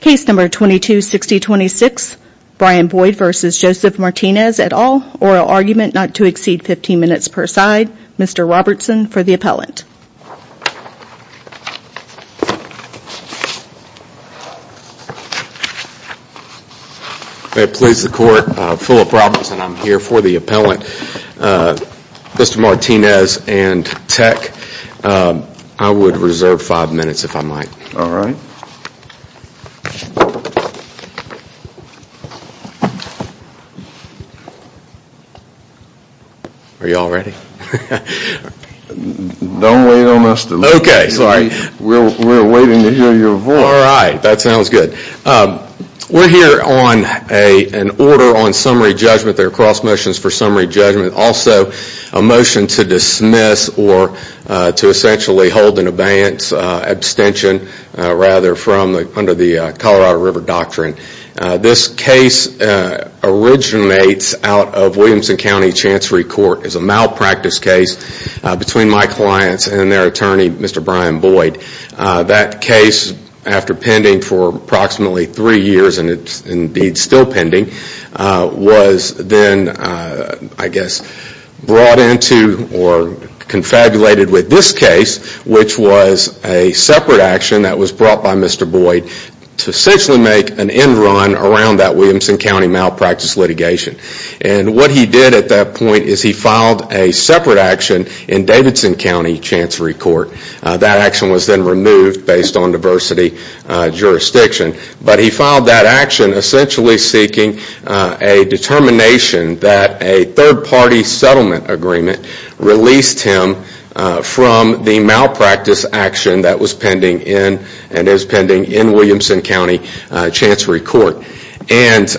Case number 226026, Brian Boyd v. Joseph Martinez et al. Oral argument not to exceed 15 minutes per side. Mr. Robertson for the appellant. May it please the court, Philip Robertson, I'm here for the appellant. Mr. Martinez and Tech, I would reserve 5 minutes if I might. All right. Are you all ready? Don't wait on us. We're waiting to hear your voice. All right. That sounds good. We're here on an order on summary judgment. There are cross motions for summary judgment. Also, a motion to dismiss or to essentially hold an abeyance abstention rather from under the Colorado River Doctrine. This case originates out of Williamson County Chancery Court. It's a malpractice case between my clients and their attorney, Mr. Brian Boyd. That case, after pending for approximately 3 years, and it's indeed still pending, was then, I guess, brought into or confabulated with this case, which was a separate action that was brought by Mr. Boyd to essentially make an end run around that Williamson County malpractice litigation. And what he did at that point is he filed a separate action in Davidson County Chancery Court. That action was then removed based on diversity jurisdiction. But he filed that action essentially seeking a determination that a third party settlement agreement released him from the malpractice action that was pending in and is pending in Williamson County Chancery Court. And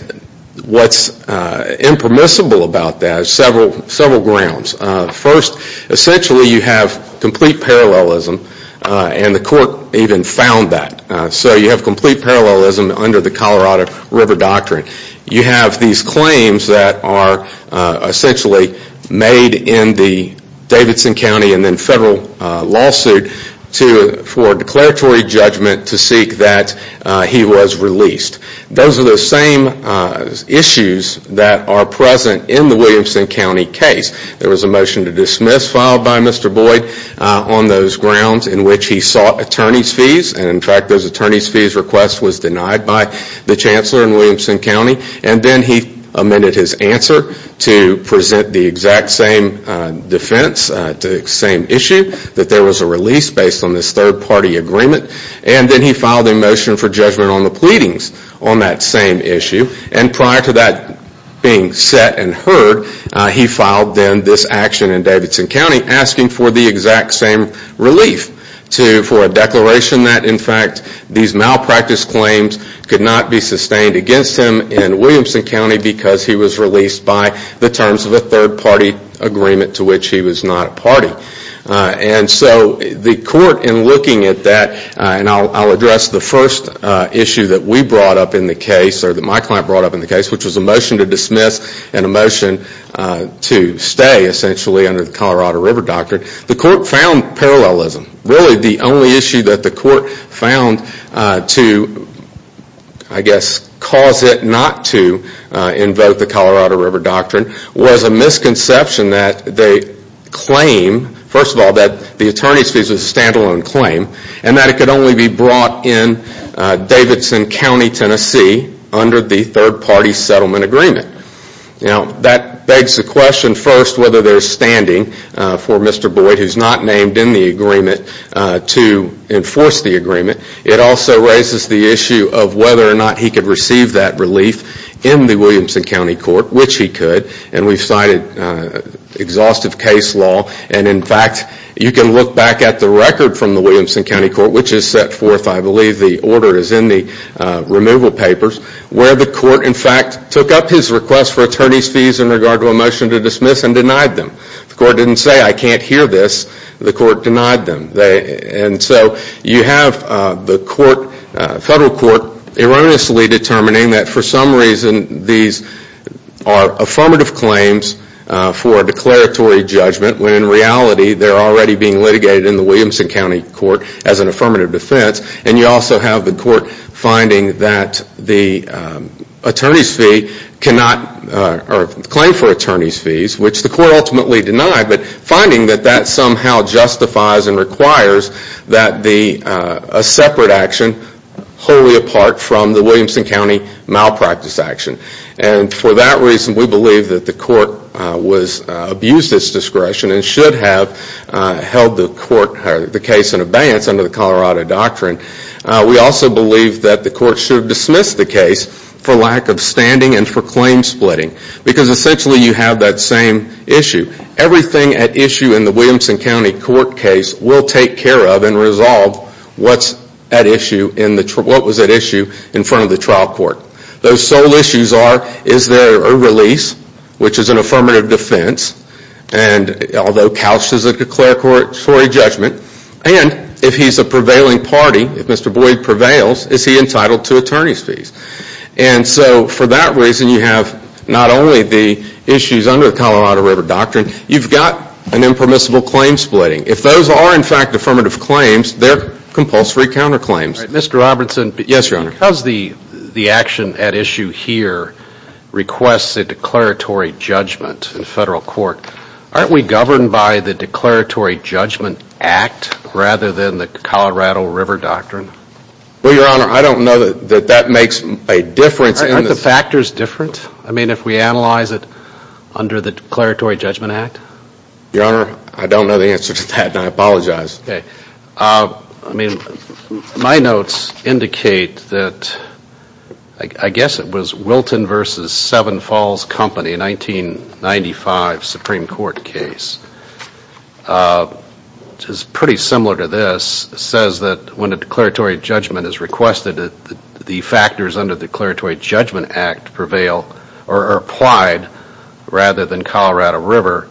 what's impermissible about that is several grounds. First, essentially you have complete parallelism, and the court even found that. So you have complete parallelism under the Colorado River Doctrine. You have these claims that are essentially made in the Davidson County and then federal lawsuit for declaratory judgment to seek that he was released. Those are the same issues that are present in the Williamson County case. There was a motion to dismiss filed by Mr. Boyd on those grounds in which he sought attorney's fees. And in fact, those attorney's fees request was denied by the Chancellor in Williamson County. And then he amended his answer to present the exact same defense, the same issue, that there was a release based on this third party agreement. And then he filed a motion for judgment on the pleadings on that same issue. And prior to that being set and heard, he filed then this action in Davidson County asking for the exact same relief, for a declaration that in fact these malpractice claims could not be sustained against him in Williamson County because he was released by the terms of a third party agreement to which he was not a party. And so the court in looking at that, and I'll address the first issue that we brought up in the case, or that my client brought up in the case, which was a motion to dismiss and a motion to stay essentially under the Colorado River Doctrine. The court found parallelism. Really the only issue that the court found to, I guess, cause it not to invoke the Colorado River Doctrine was a misconception that they claim, first of all, that the attorney's fees was a stand-alone claim, and that it could only be brought in Davidson County, Tennessee under the third party settlement agreement. Now that begs the question first whether there's standing for Mr. Boyd, who's not named in the agreement, to enforce the agreement. It also raises the issue of whether or not he could receive that relief in the Williamson County Court, which he could. And we've cited exhaustive case law, and in fact you can look back at the record from the Williamson County Court, which is set forth, I believe the order is in the removal papers, where the court in fact took up his request for attorney's fees in regard to a motion to dismiss and denied them. The court didn't say, I can't hear this. The court denied them. And so you have the court, federal court, erroneously determining that for some reason these are affirmative claims for a declaratory judgment, when in reality they're already being litigated in the Williamson County Court as an affirmative defense. And you also have the court finding that the attorney's fee cannot, or claim for attorney's fees, which the court ultimately denied, but finding that that somehow justifies and requires that a separate action wholly apart from the Williamson County malpractice action. And for that reason, we believe that the court abused its discretion and should have held the case in abeyance under the Colorado Doctrine. We also believe that the court should have dismissed the case for lack of standing and for claim splitting. Because essentially you have that same issue. Everything at issue in the Williamson County Court case will take care of and resolve what was at issue in front of the trial court. Those sole issues are, is there a release, which is an affirmative defense, and although couched as a declaratory judgment, and if he's a prevailing party, if Mr. Boyd prevails, is he entitled to attorney's fees? And so for that reason, you have not only the issues under the Colorado River Doctrine, you've got an impermissible claim splitting. If those are, in fact, affirmative claims, they're compulsory counterclaims. Mr. Robertson, because the action at issue here requests a declaratory judgment in federal court, aren't we governed by the Declaratory Judgment Act rather than the Colorado River Doctrine? Well, Your Honor, I don't know that that makes a difference. Aren't the factors different? I mean, if we analyze it under the Declaratory Judgment Act? Your Honor, I don't know the answer to that, and I apologize. Okay. I mean, my notes indicate that, I guess it was Wilton v. Seven Falls Company, 1995 Supreme Court case, which is pretty similar to this, says that when a declaratory judgment is requested, the factors under the Declaratory Judgment Act prevail, or are applied, rather than Colorado River.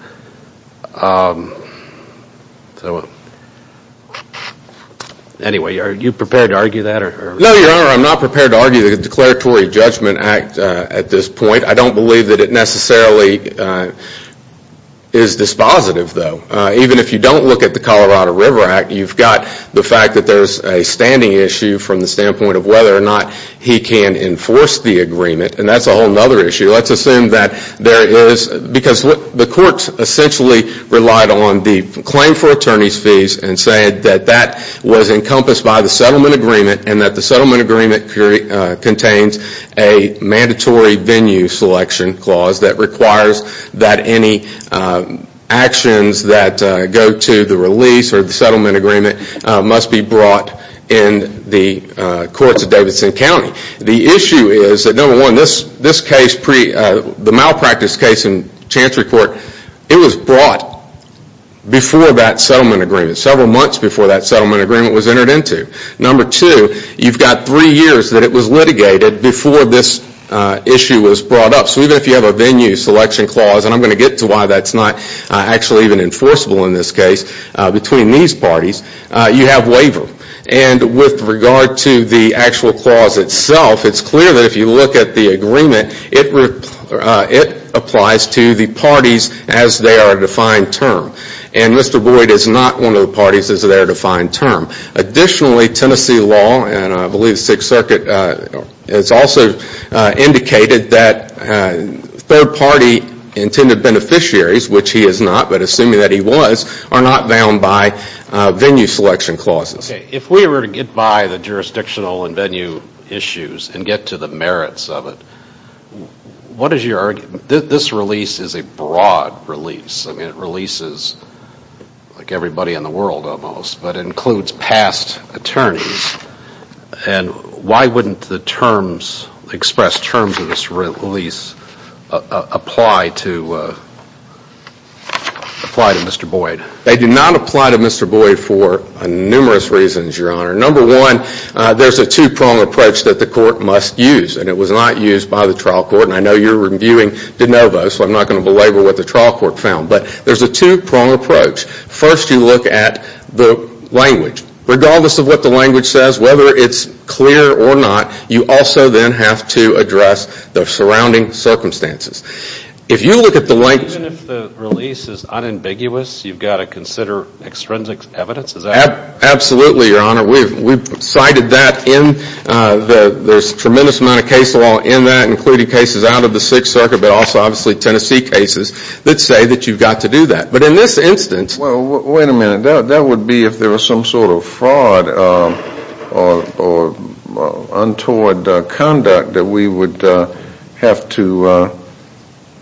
Anyway, are you prepared to argue that? No, Your Honor, I'm not prepared to argue the Declaratory Judgment Act at this point. I don't believe that it necessarily is dispositive, though. Even if you don't look at the Colorado River Act, you've got the fact that there's a standing issue from the standpoint of whether or not he can enforce the agreement, and that's a whole other issue. Let's assume that there is, because the courts essentially relied on the claim for attorney's fees and said that that was encompassed by the settlement agreement, and that the settlement agreement contains a mandatory venue selection clause that requires that any actions that go to the release or the settlement agreement must be brought in the courts of Davidson County. The issue is that, number one, this case, the malpractice case in Chantry Court, it was brought before that settlement agreement, several months before that settlement agreement was entered into. Number two, you've got three years that it was litigated before this issue was brought up. So even if you have a venue selection clause, and I'm going to get to why that's not actually even enforceable in this case, between these parties, you have waiver. And with regard to the actual clause itself, it's clear that if you look at the agreement, it applies to the parties as they are a defined term. And Mr. Boyd is not one of the parties as they are a defined term. Additionally, Tennessee law, and I believe Sixth Circuit has also indicated that third-party intended beneficiaries, which he is not, but assuming that he was, are not bound by venue selection clauses. Okay, if we were to get by the jurisdictional and venue issues and get to the merits of it, what is your argument? This release is a broad release. I mean, it releases like everybody in the world almost, but it includes past attorneys. And why wouldn't the terms, expressed terms of this release, apply to Mr. Boyd? They do not apply to Mr. Boyd for numerous reasons, Your Honor. Number one, there's a two-prong approach that the court must use, and it was not used by the trial court. And I know you're reviewing de novo, so I'm not going to belabor what the trial court found. But there's a two-prong approach. First, you look at the language. Regardless of what the language says, whether it's clear or not, you also then have to address the surrounding circumstances. If you look at the language Even if the release is unambiguous, you've got to consider extrinsic evidence, is that right? Absolutely, Your Honor. We've cited that in there's a tremendous amount of case law in that, including cases out of the Sixth Circuit, but also obviously Tennessee cases that say that you've got to do that. But in this instance Well, wait a minute. That would be if there was some sort of fraud or untoward conduct that we would have to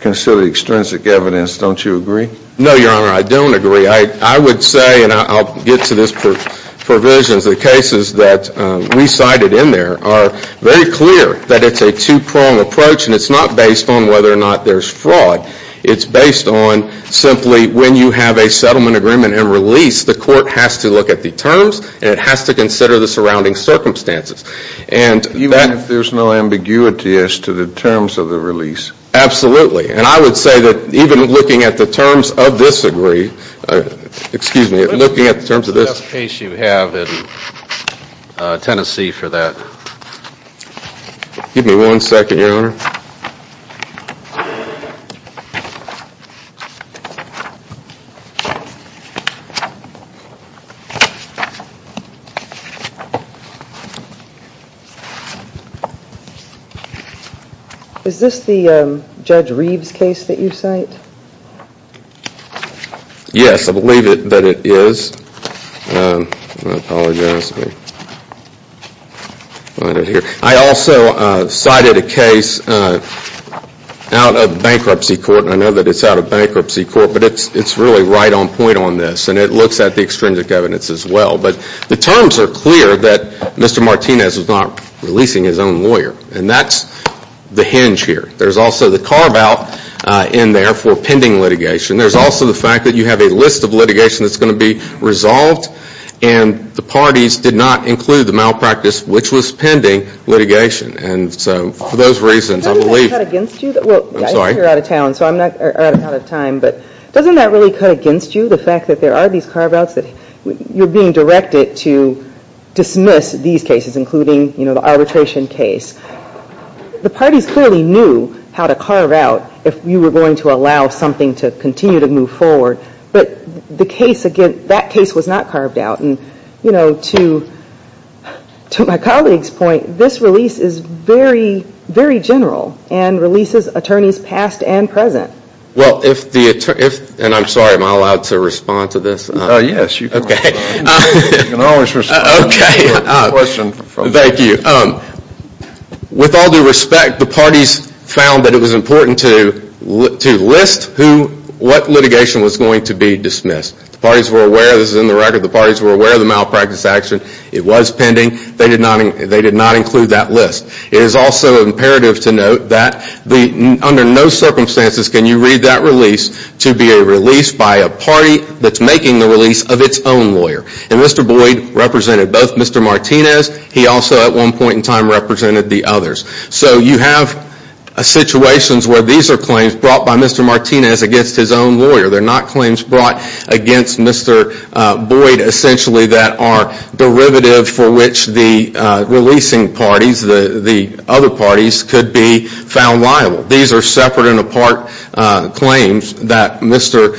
consider extrinsic evidence. Don't you agree? No, Your Honor, I don't agree. I would say, and I'll get to this provisions, the cases that we cited in there are very clear that it's a two-prong approach, and it's not based on whether or not there's fraud. It's based on simply when you have a settlement agreement and release, the court has to look at the terms and it has to consider the surrounding circumstances. Even if there's no ambiguity as to the terms of the release? Absolutely. And I would say that even looking at the terms of this agree, excuse me, looking at the terms of this What is the best case you have in Tennessee for that? Is this the Judge Reeves case that you cite? Yes, I believe that it is. I apologize. I also cited a case out of bankruptcy court, and I know that it's out of bankruptcy court, but it's really right on point on this, and it looks at the extrinsic evidence as well. But the terms are clear that Mr. Martinez was not releasing his own lawyer, and that's the hinge here. There's also the carve-out in there for pending litigation. There's also the fact that you have a list of litigation that's going to be resolved, and the parties did not include the malpractice, which was pending litigation. And so for those reasons, I believe Doesn't that cut against you? I'm sorry. Well, I know you're out of town, so I'm out of time, but doesn't that really cut against you, the fact that there are these carve-outs that you're being directed to dismiss these cases, including, you know, the arbitration case? The parties clearly knew how to carve-out if you were going to allow something to continue to move forward, but the case, again, that case was not carved-out. And, you know, to my colleague's point, this release is very, very general and releases attorneys past and present. Well, if the attorney, and I'm sorry, am I allowed to respond to this? Yes, you can. Okay. You can always respond. Okay. Thank you. With all due respect, the parties found that it was important to list what litigation was going to be dismissed. The parties were aware, this is in the record, the parties were aware of the malpractice action. It was pending. They did not include that list. It is also imperative to note that under no circumstances can you read that release to be a release by a party that's making the release of its own lawyer. And Mr. Boyd represented both Mr. Martinez. He also, at one point in time, represented the others. So you have situations where these are claims brought by Mr. Martinez against his own lawyer. They're not claims brought against Mr. Boyd, essentially, that are derivative for which the releasing parties, the other parties, could be found liable. These are separate and apart claims that Mr.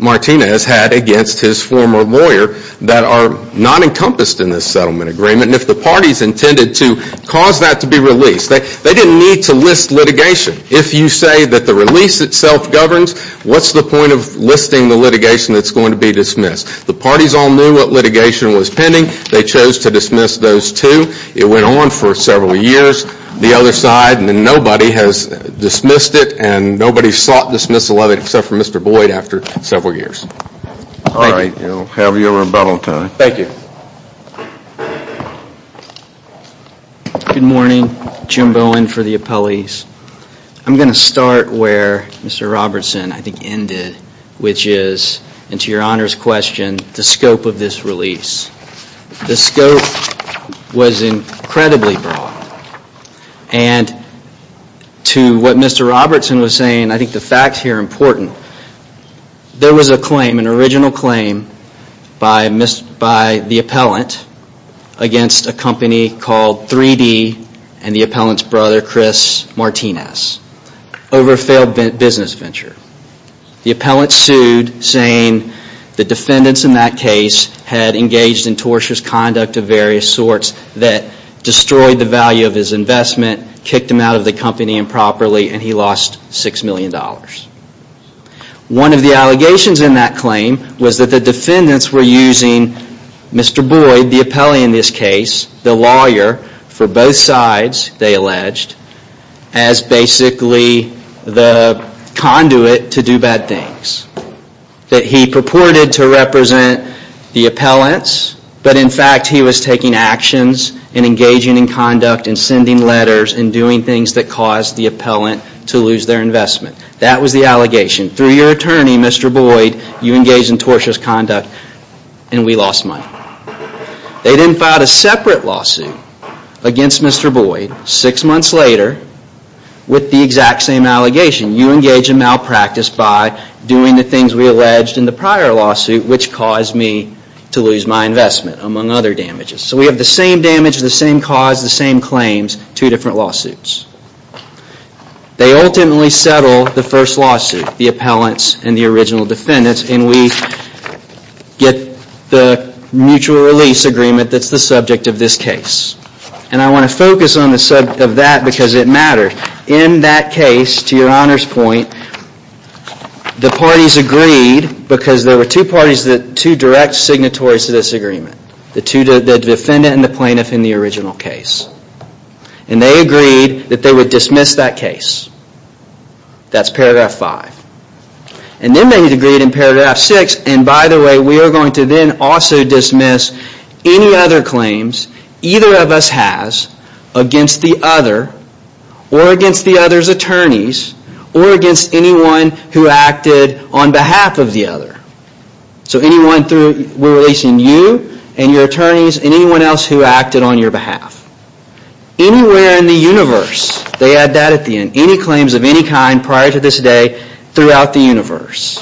Martinez had against his former lawyer that are not encompassed in this settlement agreement. And if the parties intended to cause that to be released, they didn't need to list litigation. If you say that the release itself governs, what's the point of listing the litigation that's going to be dismissed? The parties all knew what litigation was pending. They chose to dismiss those two. It went on for several years. The other side, and then nobody has dismissed it, and nobody sought dismissal of it except for Mr. Boyd after several years. Thank you. All right. Have your rebuttal time. Thank you. Good morning. Jim Bowen for the appellees. I'm going to start where Mr. Robertson, I think, ended, which is, and to your honor's question, the scope of this release. The scope was incredibly broad. And to what Mr. Robertson was saying, I think the facts here are important. There was a claim, an original claim, by the appellant against a company called 3D and the appellant's brother, Chris Martinez, over a failed business venture. The appellant sued, saying the defendants in that case had engaged in tortious conduct of various sorts that destroyed the value of his investment, kicked him out of the company improperly, and he lost $6 million. One of the allegations in that claim was that the defendants were using Mr. Boyd, the appellee in this case, the lawyer for both sides, they alleged, as basically the conduit to do bad things. That he purported to represent the appellants, but in fact he was taking actions and engaging in conduct and sending letters and doing things that caused the appellant to lose their investment. That was the allegation. Through your attorney, Mr. Boyd, you engaged in tortious conduct and we lost money. They then filed a separate lawsuit against Mr. Boyd six months later with the exact same allegation. You engage in malpractice by doing the things we alleged in the prior lawsuit, which caused me to lose my investment, among other damages. So we have the same damage, the same cause, the same claims, two different lawsuits. They ultimately settle the first lawsuit, the appellants and the original defendants, and we get the mutual release agreement that's the subject of this case. And I want to focus on the subject of that because it matters. In that case, to your Honor's point, the parties agreed because there were two parties, two direct signatories to this agreement, the defendant and the plaintiff in the original case. And they agreed that they would dismiss that case. That's paragraph five. And then they agreed in paragraph six, and by the way, we are going to then also dismiss any other claims either of us has against the other or against the other's attorneys or against anyone who acted on behalf of the other. So anyone through, we're releasing you and your attorneys and anyone else who acted on your behalf. Anywhere in the universe, they add that at the end, any claims of any kind prior to this day, throughout the universe.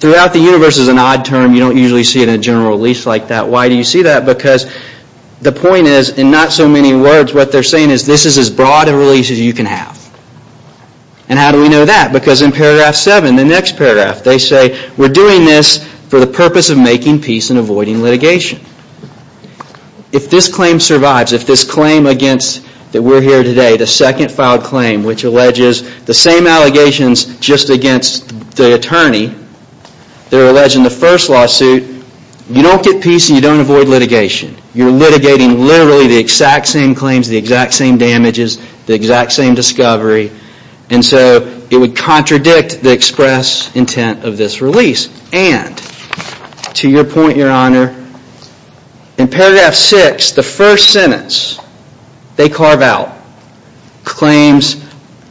Throughout the universe is an odd term. You don't usually see it in a general release like that. Why do you see that? Because the point is, in not so many words, what they're saying is, this is as broad a release as you can have. And how do we know that? Because in paragraph seven, the next paragraph, they say, we're doing this for the purpose of making peace and avoiding litigation. If this claim survives, if this claim against that we're here today, the second filed claim, which alleges the same allegations just against the attorney, they're alleging the first lawsuit, you don't get peace and you don't avoid litigation. You're litigating literally the exact same claims, the exact same damages, the exact same discovery, and so it would contradict the express intent of this release. And, to your point, your honor, in paragraph six, the first sentence, they carve out claims.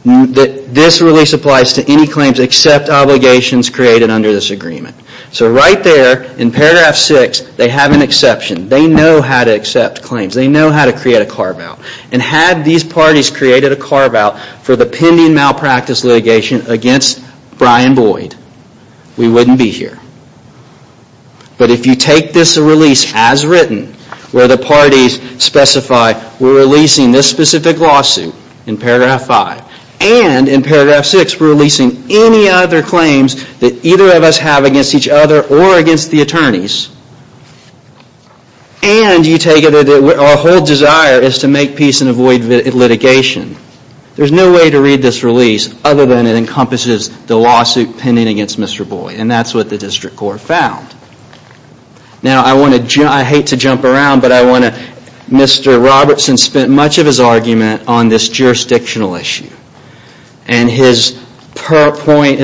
This release applies to any claims except obligations created under this agreement. So right there, in paragraph six, they have an exception. They know how to accept claims. They know how to create a carve out. And had these parties created a carve out for the pending malpractice litigation against Brian Boyd, we wouldn't be here. But if you take this release as written, where the parties specify we're releasing this specific lawsuit in paragraph five, and in paragraph six, we're releasing any other claims that either of us have against each other or against the attorneys, and you take it that our whole desire is to make peace and avoid litigation, there's no way to read this release other than it encompasses the lawsuit pending against Mr. Boyd. And that's what the district court found. Now, I hate to jump around, but Mr. Robertson spent much of his argument on this jurisdictional issue. And his argument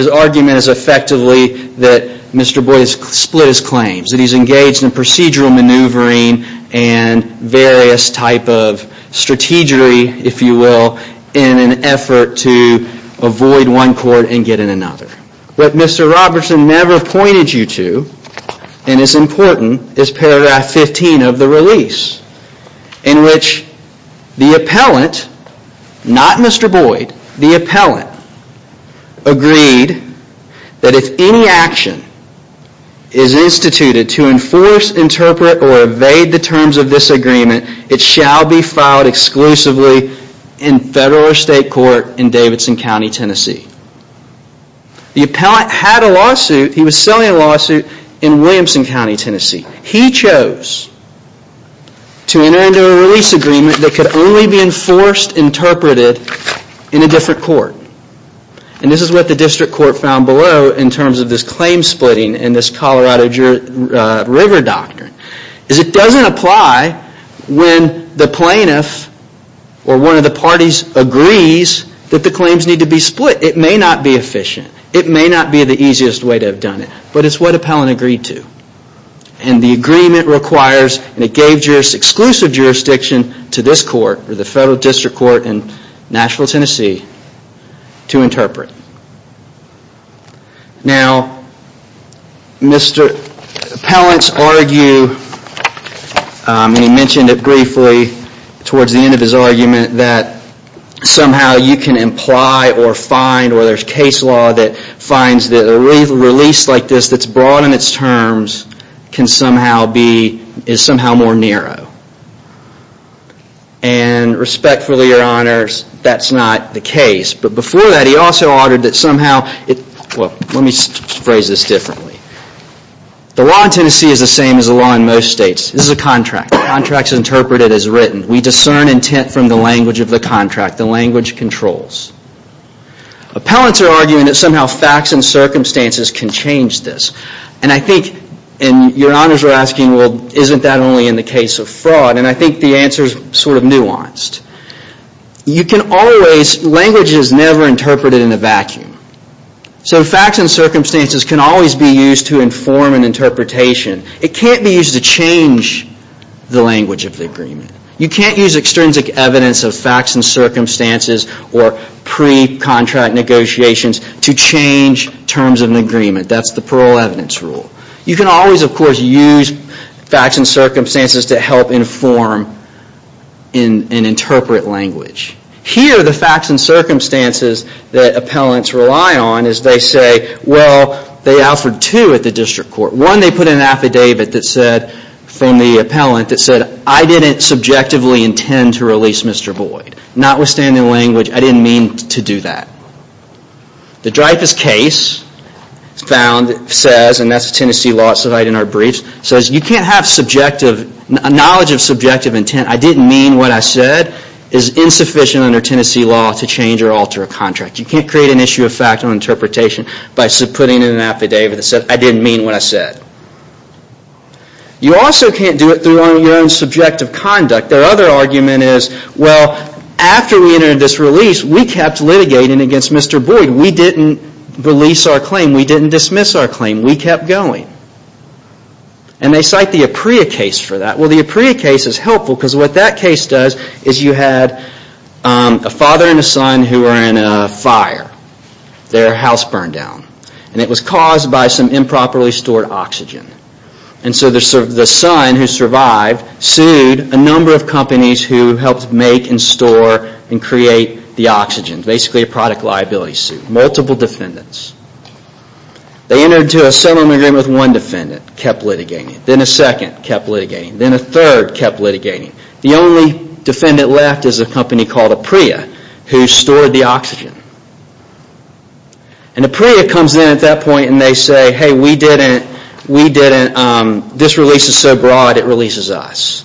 is effectively that Mr. Boyd has split his claims, that he's engaged in procedural maneuvering and various type of strategery, if you will, in an effort to avoid one court and get in another. What Mr. Robertson never pointed you to, and is important, is paragraph 15 of the release, in which the appellant, not Mr. Boyd, the appellant, that if any action is instituted to enforce, interpret, or evade the terms of this agreement, it shall be filed exclusively in federal or state court in Davidson County, Tennessee. The appellant had a lawsuit, he was selling a lawsuit in Williamson County, Tennessee. He chose to enter into a release agreement that could only be enforced, interpreted in a different court. And this is what the district court found below in terms of this claim splitting and this Colorado River Doctrine. It doesn't apply when the plaintiff or one of the parties agrees that the claims need to be split. It may not be efficient. It may not be the easiest way to have done it. But it's what appellant agreed to. And the agreement requires, and it gave exclusive jurisdiction to this court, the federal district court in Nashville, Tennessee, to interpret. Now, Mr. Appellant's argue, and he mentioned it briefly towards the end of his argument, that somehow you can imply or find, or there's case law that finds that a release like this that's broad in its terms can somehow be, is somehow more narrow. And respectfully, your honors, that's not the case. But before that, he also ordered that somehow, well, let me phrase this differently. The law in Tennessee is the same as the law in most states. This is a contract. The contract is interpreted as written. We discern intent from the language of the contract. The language controls. Appellants are arguing that somehow facts and circumstances can change this. And I think, and your honors are asking, well, isn't that only in the case of fraud? And I think the answer is sort of nuanced. You can always, language is never interpreted in a vacuum. So facts and circumstances can always be used to inform an interpretation. It can't be used to change the language of the agreement. You can't use extrinsic evidence of facts and circumstances or pre-contract negotiations to change terms of an agreement. That's the parole evidence rule. You can always, of course, use facts and circumstances to help inform and interpret language. Here, the facts and circumstances that appellants rely on is they say, well, they offered two at the district court. One, they put an affidavit that said, from the appellant, that said, I didn't subjectively intend to release Mr. Boyd. Notwithstanding language, I didn't mean to do that. The Dreyfus case found, says, and that's a Tennessee law that's in our briefs, says you can't have subjective, knowledge of subjective intent, I didn't mean what I said, is insufficient under Tennessee law to change or alter a contract. You can't create an issue of fact on interpretation by putting in an affidavit that said, I didn't mean what I said. You also can't do it through your own subjective conduct. Their other argument is, well, after we entered this release, we kept litigating against Mr. Boyd. We didn't release our claim. We didn't dismiss our claim. We kept going. And they cite the Apria case for that. Well, the Apria case is helpful because what that case does is you had a father and a son who were in a fire. Their house burned down. And it was caused by some improperly stored oxygen. And so the son who survived sued a number of companies who helped make and store and create the oxygen. Basically a product liability suit. Multiple defendants. They entered into a settlement agreement with one defendant, kept litigating. Then a second kept litigating. Then a third kept litigating. The only defendant left is a company called Apria who stored the oxygen. And Apria comes in at that point and they say, hey, we didn't, we didn't, this release is so broad, it releases us.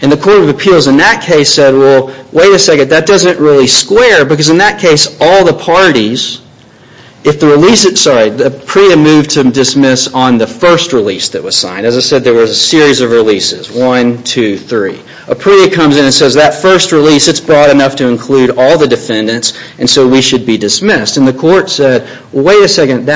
And the Court of Appeals in that case said, well, wait a second, that doesn't really square. Because in that case, all the parties, if the release, sorry, Apria moved to dismiss on the first release that was signed. As I said, there was a series of releases. One, two, three. Apria comes in and says that first release, it's broad enough to include all the defendants. And so we should be dismissed. And the court said, well, wait a second.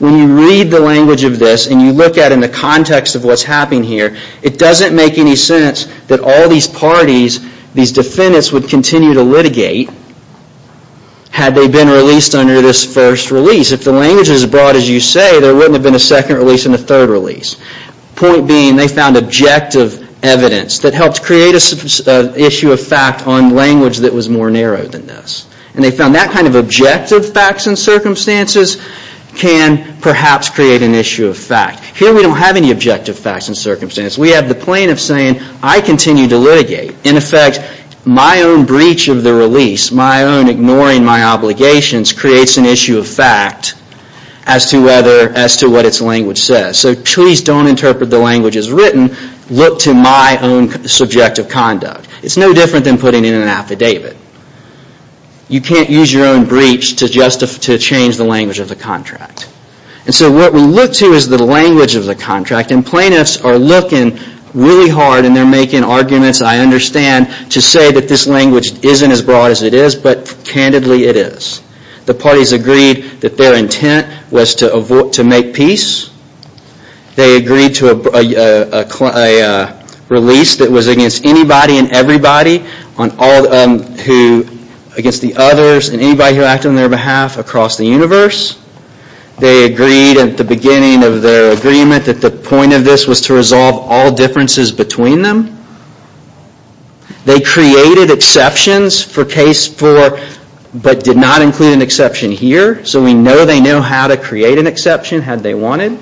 When you read the language of this and you look at it in the context of what's happening here, it doesn't make any sense that all these parties, these defendants would continue to litigate had they been released under this first release. If the language is as broad as you say, there wouldn't have been a second release and a third release. Point being, they found objective evidence that helped create an issue of fact on language that was more narrow than this. And they found that kind of objective facts and circumstances can perhaps create an issue of fact. Here we don't have any objective facts and circumstances. We have the plaintiff saying, I continue to litigate. In effect, my own breach of the release, my own ignoring my obligations, creates an issue of fact as to whether, as to what its language says. So please don't interpret the language as written. Look to my own subjective conduct. It's no different than putting in an affidavit. You can't use your own breach to change the language of the contract. And so what we look to is the language of the contract. And plaintiffs are looking really hard and they're making arguments, I understand, to say that this language isn't as broad as it is, but candidly it is. The parties agreed that their intent was to make peace. They agreed to a release that was against anybody and everybody, against the others and anybody who acted on their behalf across the universe. They agreed at the beginning of their agreement that the point of this was to resolve all differences between them. They created exceptions for case four, but did not include an exception here. So we know they know how to create an exception had they wanted.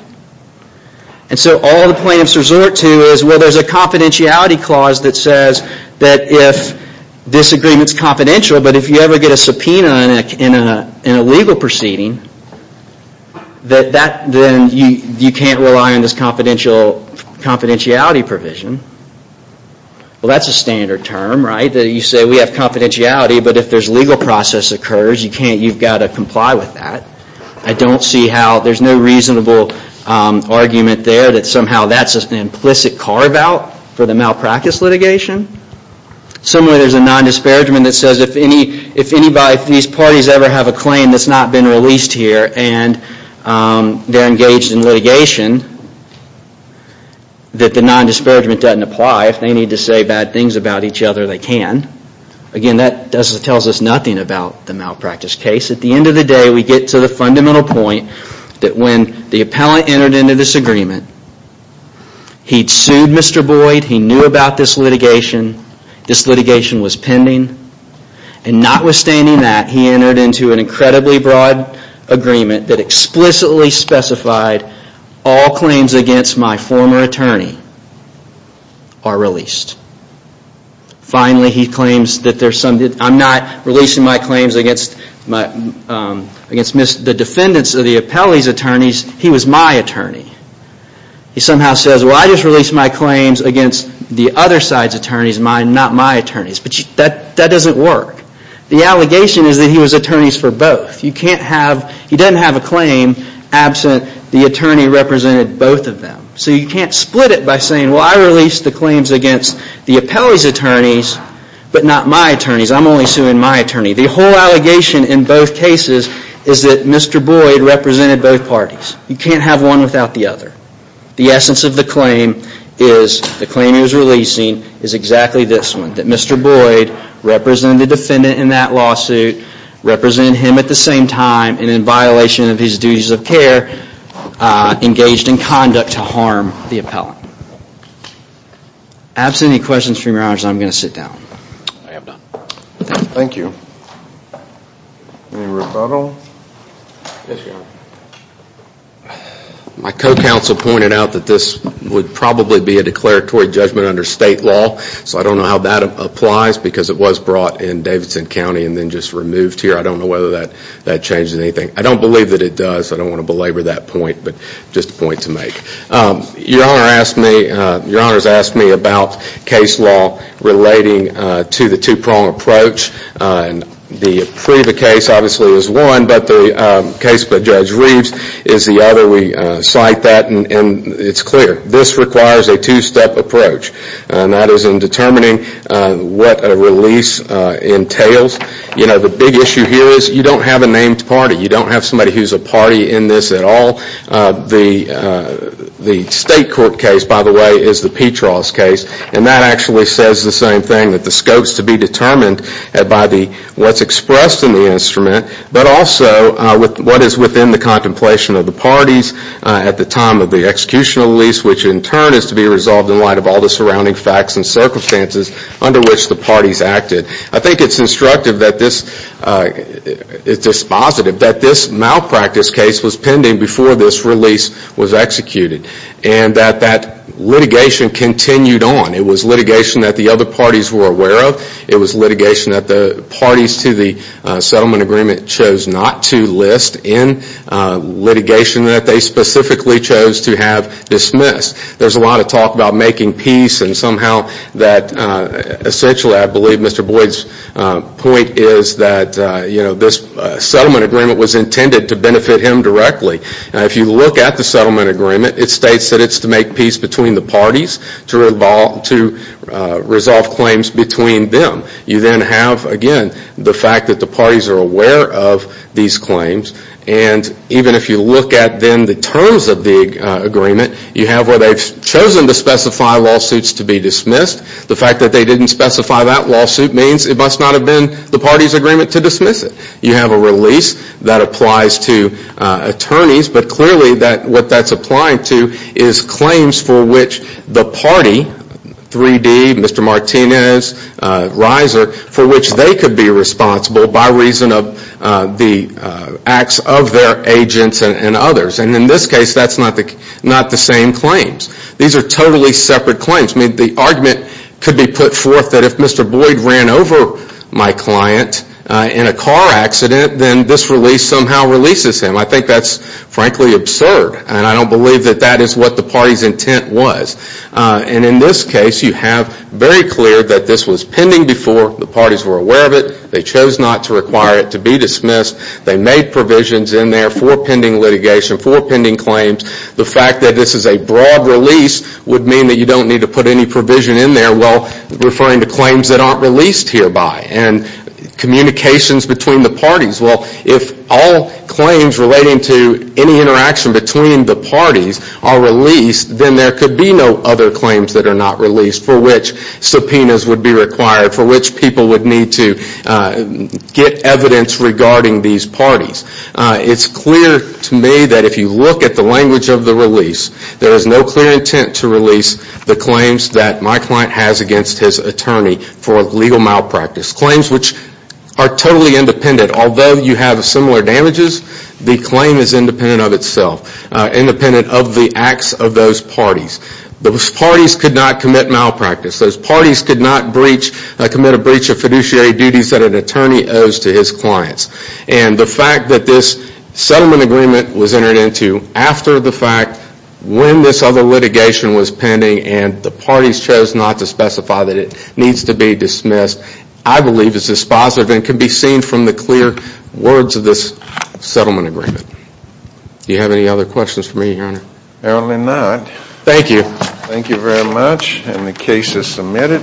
And so all the plaintiffs resort to is, well, there's a confidentiality clause that says that if this agreement's confidential, but if you ever get a subpoena in a legal proceeding, then you can't rely on this confidentiality provision. Well, that's a standard term, right, that you say we have confidentiality, but if there's legal process occurs, you've got to comply with that. I don't see how there's no reasonable argument there that somehow that's an implicit carve-out for the malpractice litigation. Similarly, there's a non-disparagement that says if these parties ever have a claim that's not been released here and they're engaged in litigation, that the non-disparagement doesn't apply. If they need to say bad things about each other, they can. Again, that tells us nothing about the malpractice case. At the end of the day, we get to the fundamental point that when the appellant entered into this agreement, he'd sued Mr. Boyd, he knew about this litigation, this litigation was pending, and notwithstanding that, he entered into an incredibly broad agreement that explicitly specified all claims against my former attorney are released. Finally, he claims that I'm not releasing my claims against the defendants of the appellee's attorneys, he was my attorney. He somehow says, well, I just released my claims against the other side's attorneys, not my attorneys. But that doesn't work. The allegation is that he was attorneys for both. You can't have, he doesn't have a claim absent the attorney represented both of them. So you can't split it by saying, well, I released the claims against the appellee's attorneys, but not my attorneys, I'm only suing my attorney. The whole allegation in both cases is that Mr. Boyd represented both parties. You can't have one without the other. The essence of the claim is, the claim he was releasing, is exactly this one, that Mr. Boyd represented the defendant in that lawsuit, represented him at the same time, and in violation of his duties of care, engaged in conduct to harm the appellant. Absent any questions, Your Honor, I'm going to sit down. I am done. Thank you. Any rebuttal? Yes, Your Honor. My co-counsel pointed out that this would probably be a declaratory judgment under state law, so I don't know how that applies because it was brought in Davidson County and then just removed here. I don't know whether that changes anything. I don't believe that it does. I don't want to belabor that point, but just a point to make. Your Honor asked me, Your Honor has asked me about case law relating to the two-prong approach. The Priva case, obviously, is one, but the case by Judge Reeves is the other. We cite that, and it's clear. This requires a two-step approach, and that is in determining what a release entails. You know, the big issue here is you don't have a named party. You don't have somebody who's a party in this at all. The state court case, by the way, is the Petras case, and that actually says the same thing, that the scope is to be determined by what's expressed in the instrument, but also what is within the contemplation of the parties at the time of the execution of the release, which in turn is to be resolved in light of all the surrounding facts and circumstances under which the parties acted. I think it's instructive that this is dispositive that this malpractice case was pending before this release was executed and that that litigation continued on. It was litigation that the other parties were aware of. It was litigation that the parties to the settlement agreement chose not to list in litigation that they specifically chose to have dismissed. There's a lot of talk about making peace and somehow that essentially, I believe, Mr. Boyd's point is that, you know, this settlement agreement was intended to benefit him directly. If you look at the settlement agreement, it states that it's to make peace between the parties, to resolve claims between them. You then have, again, the fact that the parties are aware of these claims, and even if you look at then the terms of the agreement, you have where they've chosen to specify lawsuits to be dismissed. The fact that they didn't specify that lawsuit means it must not have been the party's agreement to dismiss it. You have a release that applies to attorneys, but clearly what that's applying to is claims for which the party, 3D, Mr. Martinez, Reiser, for which they could be responsible by reason of the acts of their agents and others. And in this case, that's not the same claims. These are totally separate claims. I mean, the argument could be put forth that if Mr. Boyd ran over my client in a car accident, then this release somehow releases him. I think that's frankly absurd, and I don't believe that that is what the party's intent was. And in this case, you have very clear that this was pending before the parties were aware of it. They chose not to require it to be dismissed. They made provisions in there for pending litigation, for pending claims. The fact that this is a broad release would mean that you don't need to put any provision in there while referring to claims that aren't released hereby and communications between the parties. Well, if all claims relating to any interaction between the parties are released, then there could be no other claims that are not released for which subpoenas would be required, for which people would need to get evidence regarding these parties. It's clear to me that if you look at the language of the release, there is no clear intent to release the claims that my client has against his attorney for legal malpractice. Claims which are totally independent. Although you have similar damages, the claim is independent of itself, independent of the acts of those parties. Those parties could not commit malpractice. Those parties could not commit a breach of fiduciary duties that an attorney owes to his clients. And the fact that this settlement agreement was entered into after the fact, when this other litigation was pending and the parties chose not to specify that it needs to be dismissed, I believe is dispositive and can be seen from the clear words of this settlement agreement. Do you have any other questions for me, Your Honor? Apparently not. Thank you. Thank you very much, and the case is submitted.